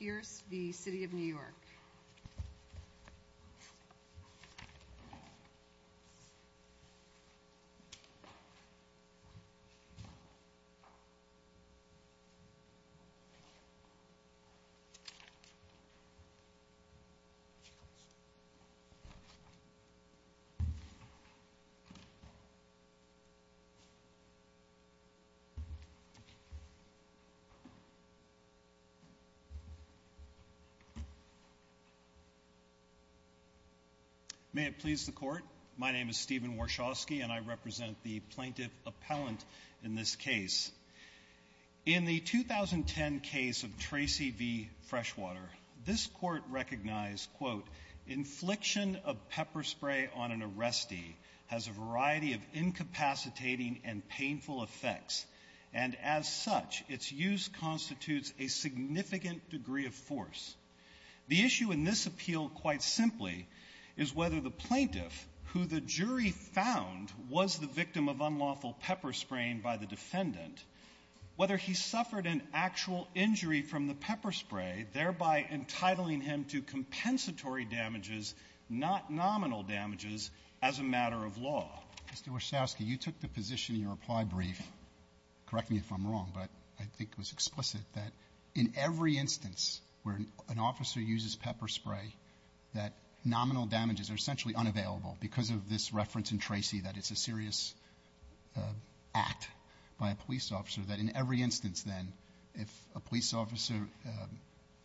York. May it please the Court, my name is Stephen Warshawski and I represent the plaintiff appellant in this case. In the 2010 case of Tracy v. Freshwater, this Court recognized, quote, infliction of pepper spray on an arrestee has a variety of incapacitating and painful effects, and as such, its use constitutes a significant degree of force. The issue in this appeal, quite simply, is whether the plaintiff, who the jury found was the victim of unlawful pepper spraying by the defendant, whether he suffered an actual injury from the pepper spray, thereby entitling him to compensatory damages, not nominal damages, as a matter of law. Mr. Warshawski, you took the position in your reply brief, correct me if I'm wrong, but I think it was explicit, that in every instance where an officer uses pepper spray, that nominal damages are essentially unavailable because of this reference in Tracy that it's a serious act by a police officer, that in every instance, then, if a police officer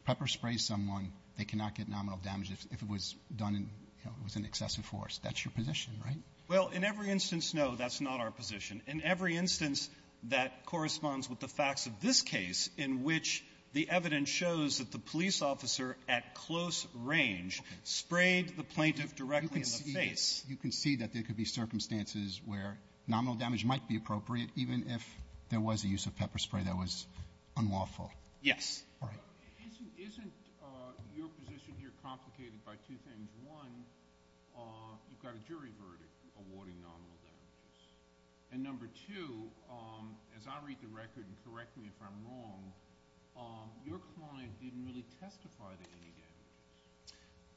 pepper sprays someone, they cannot get nominal damages if it was done in, you know, it was in excessive force. That's your position, right? Warshawski, Well, in every instance, no, that's not our position. In every instance that corresponds with the facts of this case, in which the evidence shows that the police officer at close range sprayed the plaintiff directly in the face. Roberts, you can see that there could be circumstances where nominal damage might be appropriate, even if there was a use of pepper spray that was unlawful. Warshawski, Yes. Roberts, all right. Your position here complicated by two things. One, you've got a jury verdict awarding nominal damages. And number two, as I read the record, and correct me if I'm wrong, your client didn't really testify to any damages.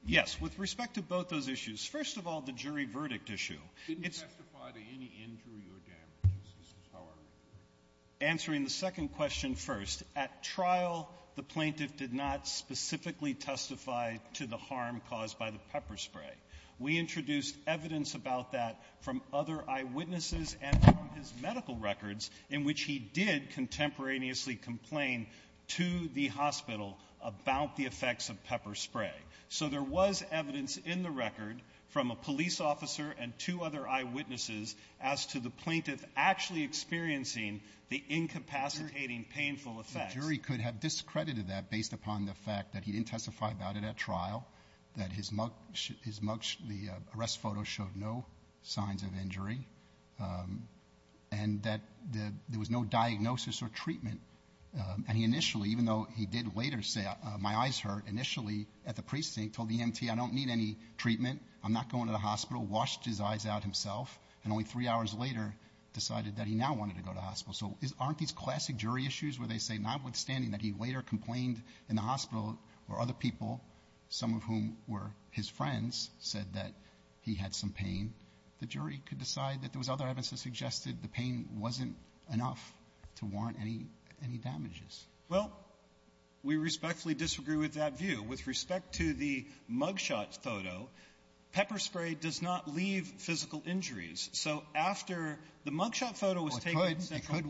Warshawski, Yes. With respect to both those issues, first of all, the jury verdict issue. Roberts, Didn't testify to any injury or damages, is how I read it. Warshawski, Answering the second question first, at trial, the plaintiff did not specifically testify to the harm caused by the pepper spray. We introduced evidence about that from other eyewitnesses and from his medical records in which he did contemporaneously complain to the hospital about the effects of pepper spray. So there was evidence in the record from a police officer and two other eyewitnesses as to the plaintiff actually experiencing the incapacitating painful effects. The jury could have discredited that based upon the fact that he didn't testify about it at trial, that his mug, the arrest photo showed no signs of injury, and that there was no diagnosis or treatment. And he initially, even though he did later say, my eyes hurt, initially at the precinct told the EMT, I don't need any treatment, I'm not going to the hospital, washed his eyes out himself, and only three hours later decided that he now wanted to go to hospital. So aren't these classic jury issues where they say notwithstanding that he later complained in the hospital where other people, some of whom were his friends, said that he had some pain, the jury could decide that there was other evidence that suggested the pain wasn't enough to warrant any damages? Well, we respectfully disagree with that view. With respect to the mug shot photo, pepper spray does not leave physical injuries. So after the mug shot photo was taken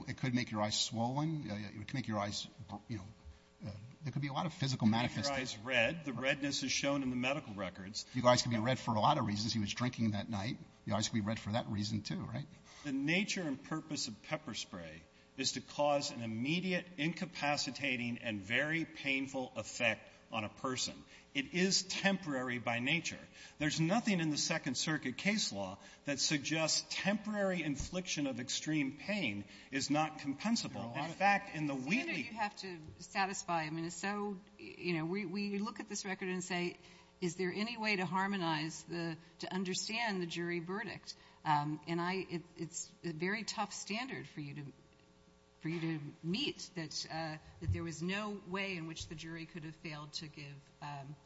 It could make your eyes swollen. It could make your eyes, you know, there could be a lot of physical manifestations. It could make your eyes red. The redness is shown in the medical records. Your eyes could be red for a lot of reasons. He was drinking that night. Your eyes could be red for that reason, too, right? The nature and purpose of pepper spray is to cause an immediate, incapacitating and very painful effect on a person. It is temporary by nature. There's nothing in the Second Circuit case law that suggests temporary infliction of extreme pain is not compensable. In fact, in the Wheatley ---- Senator, you have to satisfy. I mean, it's so, you know, we look at this record and say, is there any way to harmonize the, to understand the jury verdict? And I, it's a very tough standard for you to meet, that there was no way in which the jury could have failed to give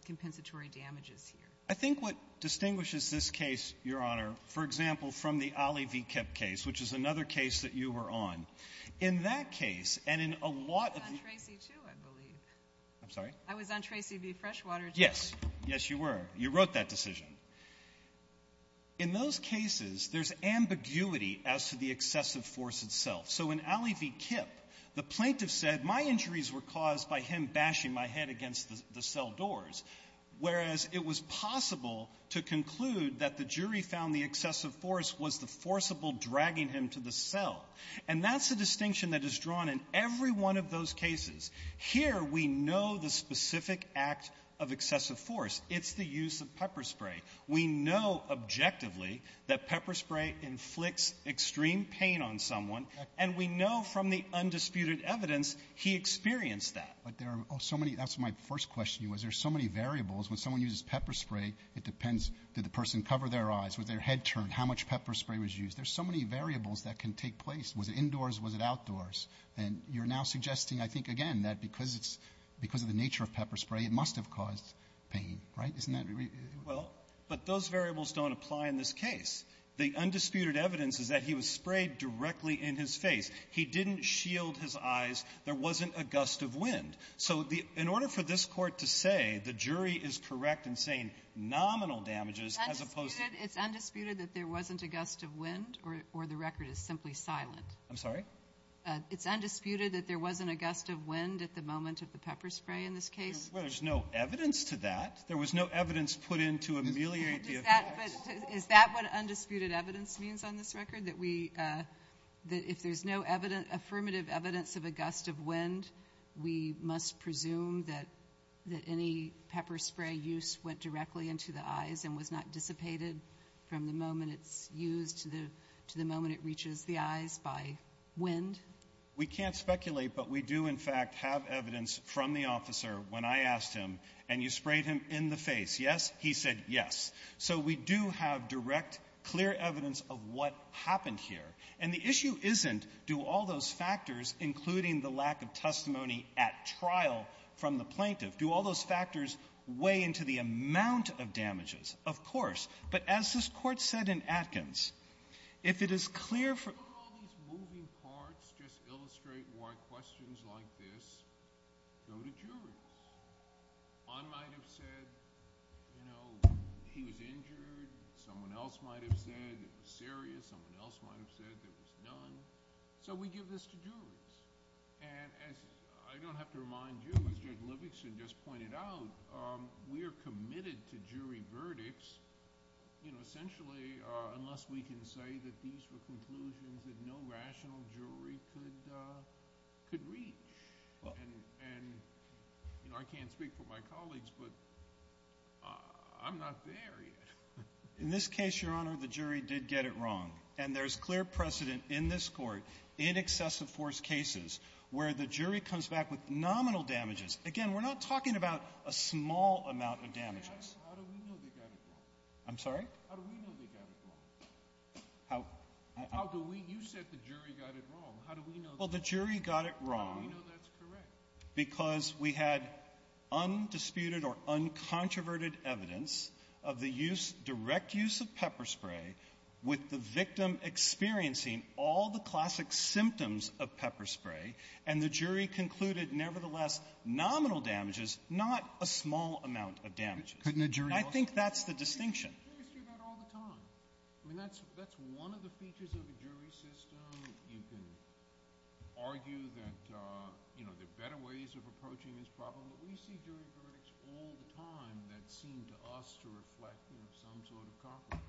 compensatory damages here. I think what distinguishes this case, Your Honor, for example, from the Ali V. Kip case, which is another case that you were on, in that case, and in a lot of the ---- I was on Tracy, too, I believe. I'm sorry? I was on Tracy v. Freshwater, too. Yes. Yes, you were. You wrote that decision. In those cases, there's ambiguity as to the excessive force itself. So in Ali v. Kip, the plaintiff said, my injuries were caused by him bashing my head against the cell doors, whereas it was possible to conclude that the jury found the excessive force was the forcible dragging him to the cell. And that's the distinction that is drawn in every one of those cases. Here, we know the specific act of excessive force. It's the use of pepper spray. We know objectively that pepper spray inflicts extreme pain on someone. And we know from the undisputed evidence he experienced that. But there are so many. That's my first question. There's so many variables. When someone uses pepper spray, it depends, did the person cover their eyes? Was their head turned? How much pepper spray was used? There's so many variables that can take place. Was it indoors? Was it outdoors? And you're now suggesting, I think, again, that because it's ---- because of the nature of pepper spray, it must have caused pain. Right? Isn't that ---- Well, but those variables don't apply in this case. The undisputed evidence is that he was sprayed directly in his face. He didn't shield his eyes. There wasn't a gust of wind. So in order for this Court to say the jury is correct in saying nominal damages as opposed to ---- It's undisputed that there wasn't a gust of wind, or the record is simply silent? I'm sorry? It's undisputed that there wasn't a gust of wind at the moment of the pepper spray in this case? Well, there's no evidence to that. There was no evidence put in to ameliorate the effects. Is that what undisputed evidence means on this record, that we ---- that if there's no affirmative evidence of a gust of wind, we must presume that any pepper spray use went directly into the eyes and was not dissipated from the moment it's used to the moment it reaches the eyes by wind? We can't speculate, but we do, in fact, have evidence from the officer when I asked him, and you sprayed him in the face, yes? He said yes. So we do have direct, clear evidence of what happened here. And the issue isn't, do all those factors, including the lack of testimony at trial from the plaintiff, do all those factors weigh into the amount of damages? Of course. But as this Court said in Atkins, if it is clear for ---- Can't all these moving parts just illustrate why questions like this go to jurors? One might have said, you know, he was injured. Someone else might have said it was serious. Someone else might have said it was done. So we give this to jurors. And as I don't have to remind you, as Judge Livingston just pointed out, we are committed to jury verdicts, you know, essentially unless we can say that these were conclusions that no rational jury could reach. And, you know, I can't speak for my colleagues, but I'm not there yet. In this case, Your Honor, the jury did get it wrong. And there's clear precedent in this Court in excessive force cases where the jury comes back with nominal damages. Again, we're not talking about a small amount of damages. How do we know they got it wrong? I'm sorry? How do we know they got it wrong? How do we? You said the jury got it wrong. How do we know that? Well, the jury got it wrong. How do we know that's correct? Because we had undisputed or uncontroverted evidence of the use, direct use of pepper spray with the victim experiencing all the classic symptoms of pepper spray, and the jury concluded, nevertheless, nominal damages, not a small amount of damages. I think that's the distinction. I mean, that's one of the features of a jury system. You can argue that, you know, there are better ways of approaching this problem, but we see jury verdicts all the time that seem to us to reflect, you know, some sort of compromise.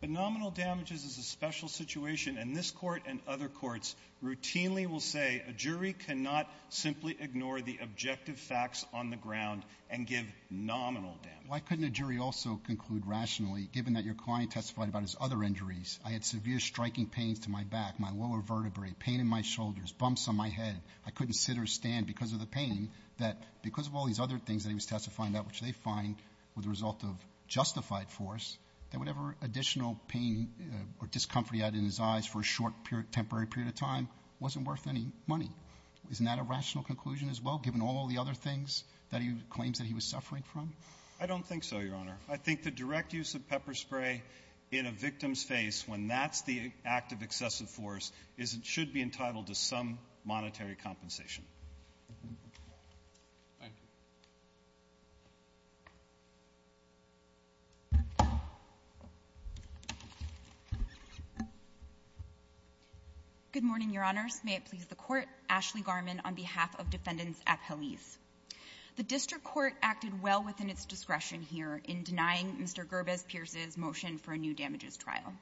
But nominal damages is a special situation. And this Court and other courts routinely will say a jury cannot simply ignore the objective facts on the ground and give nominal damages. Why couldn't a jury also conclude rationally, given that your client testified about his other injuries? I had severe striking pains to my back, my lower vertebrae, pain in my shoulders, bumps on my head. I couldn't sit or stand because of the pain. That because of all these other things that he was testifying about, which they find were the result of justified force, that whatever additional pain or discomfort he had in his eyes for a short, temporary period of time wasn't worth any money. Isn't that a rational conclusion as well, given all the other things that he claims that he was suffering from? I don't think so, Your Honor. I think the direct use of pepper spray in a victim's face, when that's the act of excessive force, is it should be entitled to some monetary compensation. Thank you. Good morning, Your Honors. May it please the Court. Ashley Garmon on behalf of Defendants at Pelez. The district court acted well within its discretion here in denying Mr. Gerbez-Pierce's motion for a new damages trial,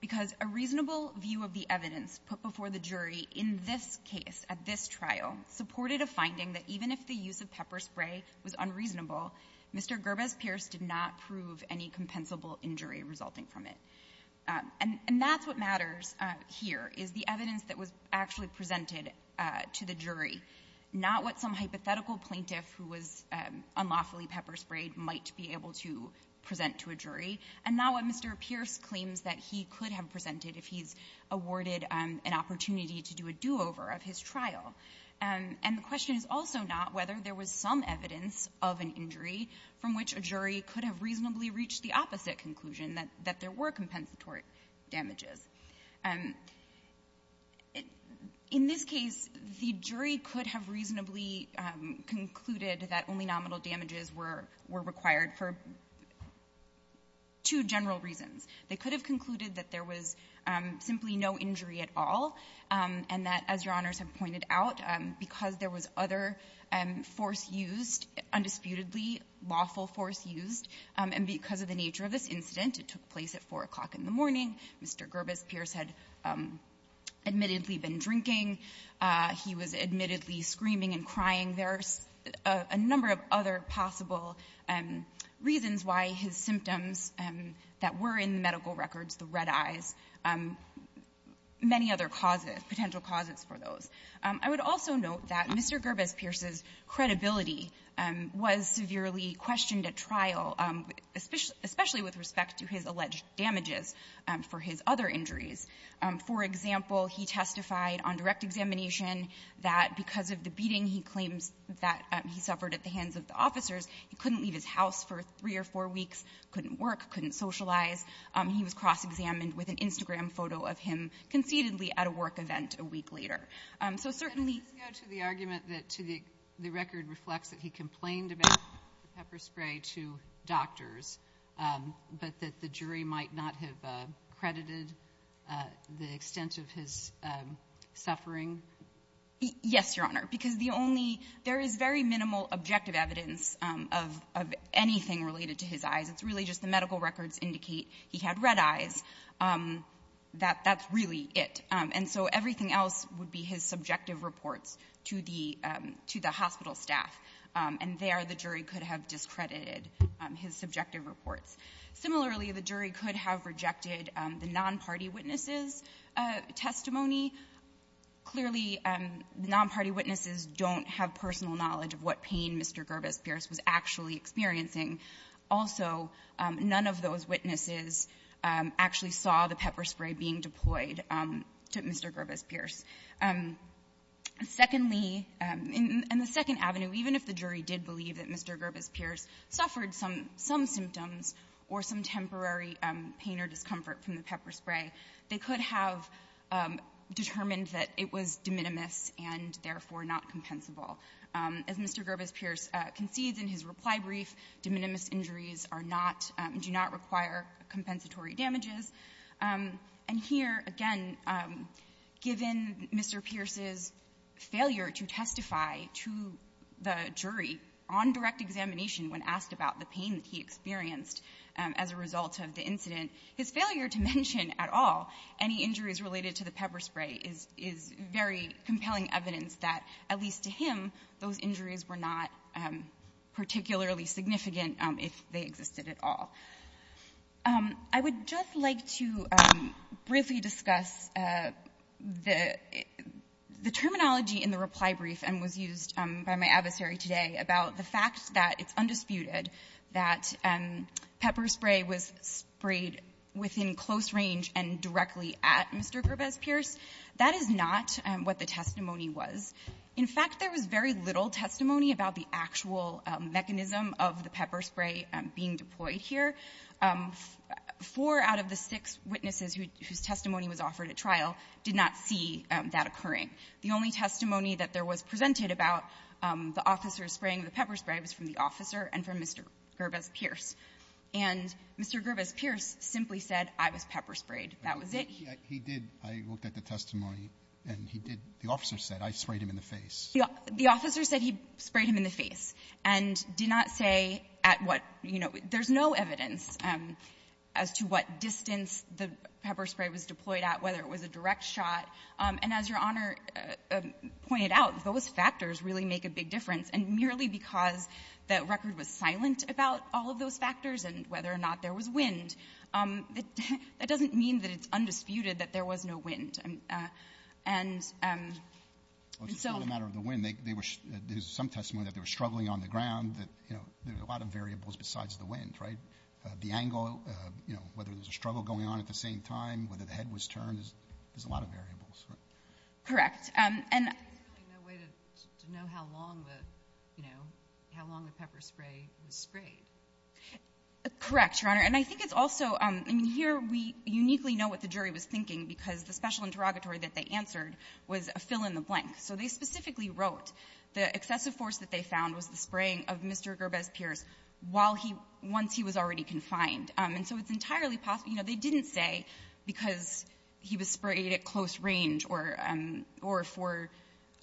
because a reasonable view of the evidence put before the jury in this case, at this trial, supported a finding that even if the use of pepper spray was unreasonable, Mr. Gerbez-Pierce did not prove any compensable injury resulting from it. And that's what matters here, is the evidence that was actually presented to the jury, not what some hypothetical plaintiff who was unlawfully pepper sprayed might be able to present to a jury, and not what Mr. Pierce claims that he could have presented if he's awarded an opportunity to do a do-over of his trial. And the question is also not whether there was some evidence of an injury from which a jury could have reasonably reached the opposite conclusion, that there were compensatory damages. In this case, the jury could have reasonably concluded that only nominal damages were required for two general reasons. They could have concluded that there was simply no injury at all, and that, as Your Honors have pointed out, because there was other force used, undisputedly lawful force used, and because of the nature of this incident, it took place at 4 o'clock in the morning. Mr. Gerbez-Pierce had admittedly been drinking. He was admittedly screaming and crying. There are a number of other possible reasons why his symptoms that were in the medical records, the red I would also note that Mr. Gerbez-Pierce's credibility was severely questioned at trial, especially with respect to his alleged damages for his other injuries. For example, he testified on direct examination that because of the beating he claims that he suffered at the hands of the officers, he couldn't leave his house for three weeks, and that there was a photo of him concededly at a work event a week later. So certainly the argument that to the record reflects that he complained about the pepper spray to doctors, but that the jury might not have credited the extent of his suffering? Yes, Your Honor, because the only there is very minimal objective evidence of anything related to his eyes. It's really just the medical records indicate he had red eyes. That's really it. And so everything else would be his subjective reports to the hospital staff. And there the jury could have discredited his subjective reports. Similarly, the jury could have rejected the non-party witnesses' testimony. Clearly, the non-party witnesses don't have personal knowledge of what pain Mr. Gerbez-Pierce was actually experiencing. Also, none of those witnesses actually saw the pepper spray being deployed to Mr. Gerbez-Pierce. Secondly, in the second avenue, even if the jury did believe that Mr. Gerbez-Pierce suffered some symptoms or some temporary pain or discomfort from the pepper spray, they could have determined that it was de minimis and therefore not compensable. As Mr. Gerbez-Pierce concedes in his reply brief, de minimis injuries are not do not require compensatory damages. And here, again, given Mr. Pierce's failure to testify to the jury on direct examination when asked about the pain that he experienced as a result of the incident, his failure to mention at all any injuries related to the pepper spray is very compelling evidence that, at least to him, those injuries were not particularly significant if they existed at all. I would just like to briefly discuss the terminology in the reply brief and was used by my adversary today about the fact that it's undisputed that pepper spray was sprayed within close range and directly at Mr. Gerbez-Pierce. That is not what the testimony was. In fact, there was very little testimony about the actual mechanism of the pepper spray being deployed here. Four out of the six witnesses whose testimony was offered at trial did not see that occurring. The only testimony that there was presented about the officer spraying the pepper spray was from the officer and from Mr. Gerbez-Pierce. And Mr. Gerbez-Pierce simply said, I was pepper sprayed. That was it. He did. I looked at the testimony, and he did. The officer said, I sprayed him in the face. The officer said he sprayed him in the face and did not say at what, you know, there's no evidence as to what distance the pepper spray was deployed at, whether it was a direct shot. And as Your Honor pointed out, those factors really make a big difference. And merely because the record was silent about all of those factors and whether or not there was wind, that doesn't mean that it's undisputed that there was no wind. And so the matter of the wind, there was some testimony that they were struggling on the ground that, you know, there's a lot of variables besides the wind, right? The angle, you know, whether there's a struggle going on at the same time, whether the head was turned, there's a lot of variables. Correct. And the way to know how long the, you know, how long the pepper spray was sprayed. Correct, Your Honor. And I think it's also, I mean, here we uniquely know what the jury was thinking because the special interrogatory that they answered was a fill-in-the-blank. So they specifically wrote the excessive force that they found was the spraying of Mr. Gerbez-Pierce while he was already confined. And so it's entirely possible, you know, they didn't say because he was sprayed at close range or for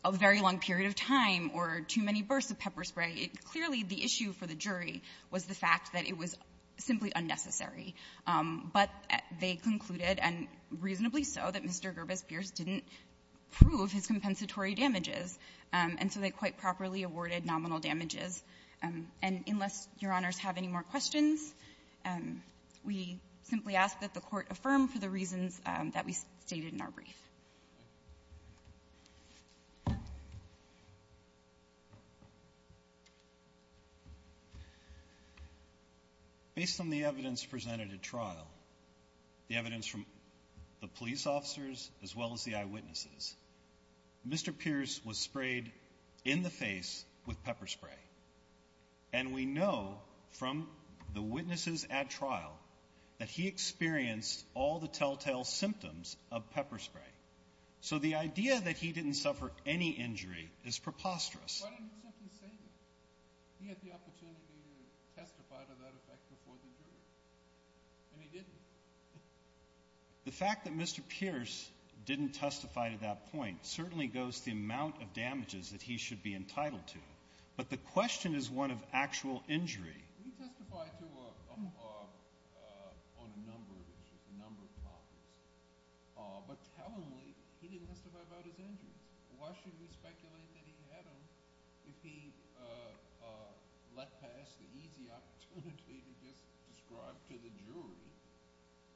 a very long period of time or too many bursts of pepper spray, it clearly, the issue for the jury was the fact that it was simply unnecessary. But they concluded, and reasonably so, that Mr. Gerbez-Pierce didn't prove his compensatory damages, and so they quite properly awarded nominal damages. And unless, Your Honors, have any more questions, we simply ask that the Court affirm for the reasons that we stated in our brief. Based on the evidence presented at trial, the evidence from the police officers, as well as the eyewitnesses, Mr. Pierce was sprayed in the face with pepper spray. And we know from the witnesses at trial that he experienced all the telltale symptoms of pepper spray. So the idea that he didn't suffer any injury is preposterous. The fact that Mr. Pierce didn't testify to that point certainly goes to the amount of damages that he should be entitled to. But the question is one of actual injury. He testified on a number of issues, a number of topics. But tellingly, he didn't testify about his injuries. Why should we speculate that he had them if he let pass the easy opportunity to just describe to the jury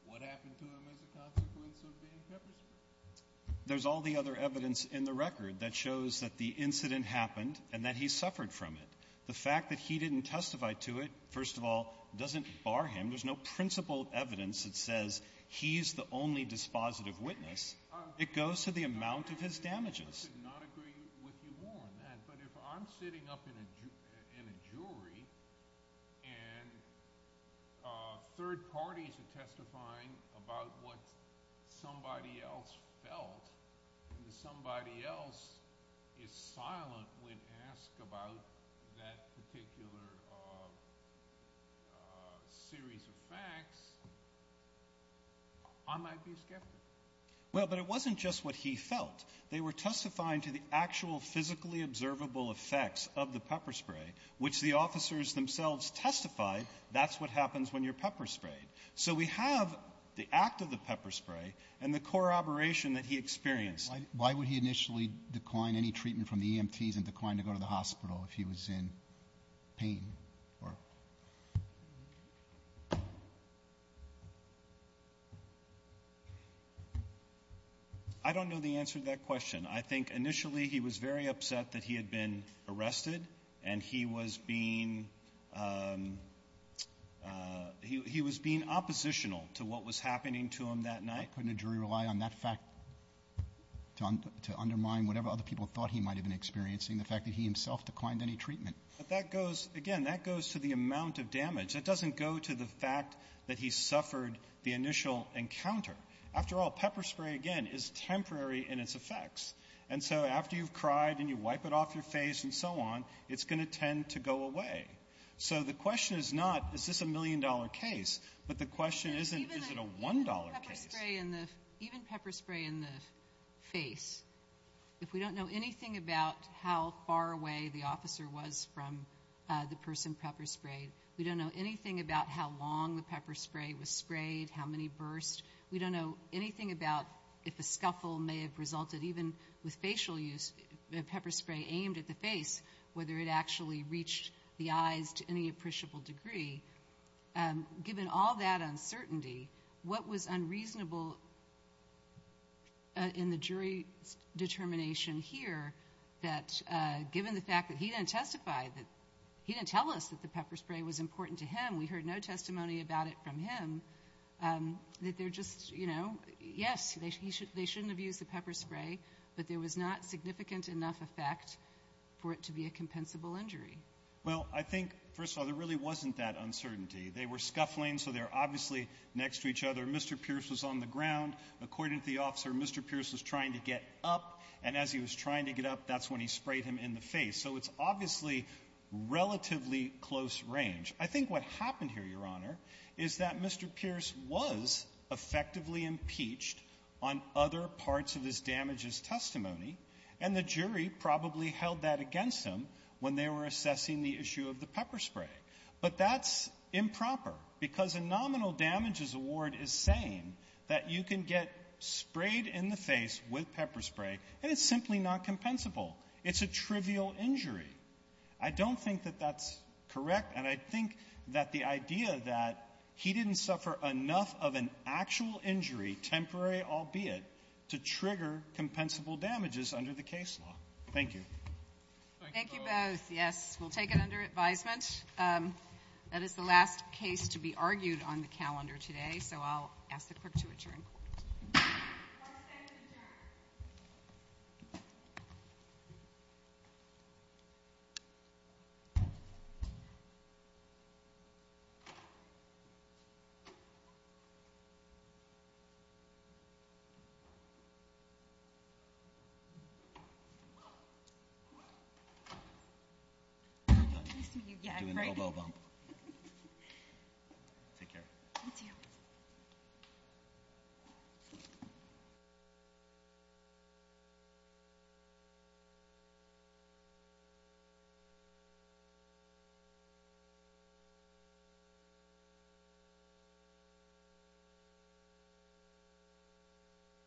what happened to him as a consequence of being pepper sprayed? There's all the other evidence in the record that shows that the incident happened and that he suffered from it. The fact that he didn't testify to it, first of all, doesn't bar him. There's no principled evidence that says he's the only dispositive witness. It goes to the amount of his damages. I should not agree with you more on that, but if I'm sitting up in a jury and third parties are testifying about what somebody else felt and somebody else is silent when asked about that particular series of facts, I might be skeptical. Well, but it wasn't just what he felt. They were testifying to the actual physically observable effects of the pepper spray, which the officers themselves testified, that's what happens when you're pepper sprayed. So we have the act of the pepper spray and the corroboration that he experienced. Why would he initially decline any treatment from the EMTs and decline to go to the hospital if he was in pain? I don't know the answer to that question. I think initially he was very upset that he had been arrested and he was being oppositional to what was happening to him that night. Couldn't a jury rely on that fact to undermine whatever other people thought he might have been experiencing, the fact that he himself declined any treatment? But that goes, again, that goes to the amount of damage. That doesn't go to the fact that he suffered the initial encounter. After all, pepper spray, again, is temporary in its effects. And so after you've cried and you wipe it off your face and so on, it's going to tend to go away. So the question is not, is this a million-dollar case? But the question isn't, is it a one-dollar case? Even pepper spray in the face, if we don't know anything about how far away the officer was from the person pepper sprayed, we don't know anything about how long the pepper spray was sprayed, how many bursts, we don't know anything about if a scuffle may have resulted even with facial use, pepper spray aimed at the face, whether it actually reached the face. And so I think there's a little in the jury's determination here that given the fact that he didn't testify, that he didn't tell us that the pepper spray was important to him, we heard no testimony about it from him, that they're just, you know, yes, they shouldn't have used the pepper spray, but there was not significant enough effect for it to be a compensable injury. Well, I think, first of all, there really wasn't that uncertainty. They were scuffling, so they were obviously next to each other. Mr. Pierce was on the ground. According to the officer, Mr. Pierce was trying to get up, and as he was trying to get up, that's when he sprayed him in the face. So it's obviously relatively close range. I think what happened here, Your Honor, is that Mr. Pierce was effectively impeached on other parts of his damages testimony, and the jury probably held that against him when they were assessing the issue of the pepper spray. But that's improper, because a nominal damages award is saying that you can get sprayed in the face with pepper spray, and it's simply not compensable. It's a trivial injury. I don't think that that's correct, and I think that the idea that he didn't suffer enough of an actual injury, temporary albeit, to trigger compensable damages under the case law. Thank you. Thank you both. Yes, we'll take it under advisement. That is the last case to be argued on the calendar today, so I'll ask the clerk to adjourn. We're done. We're doing the oboe bump. Take care. Thank you.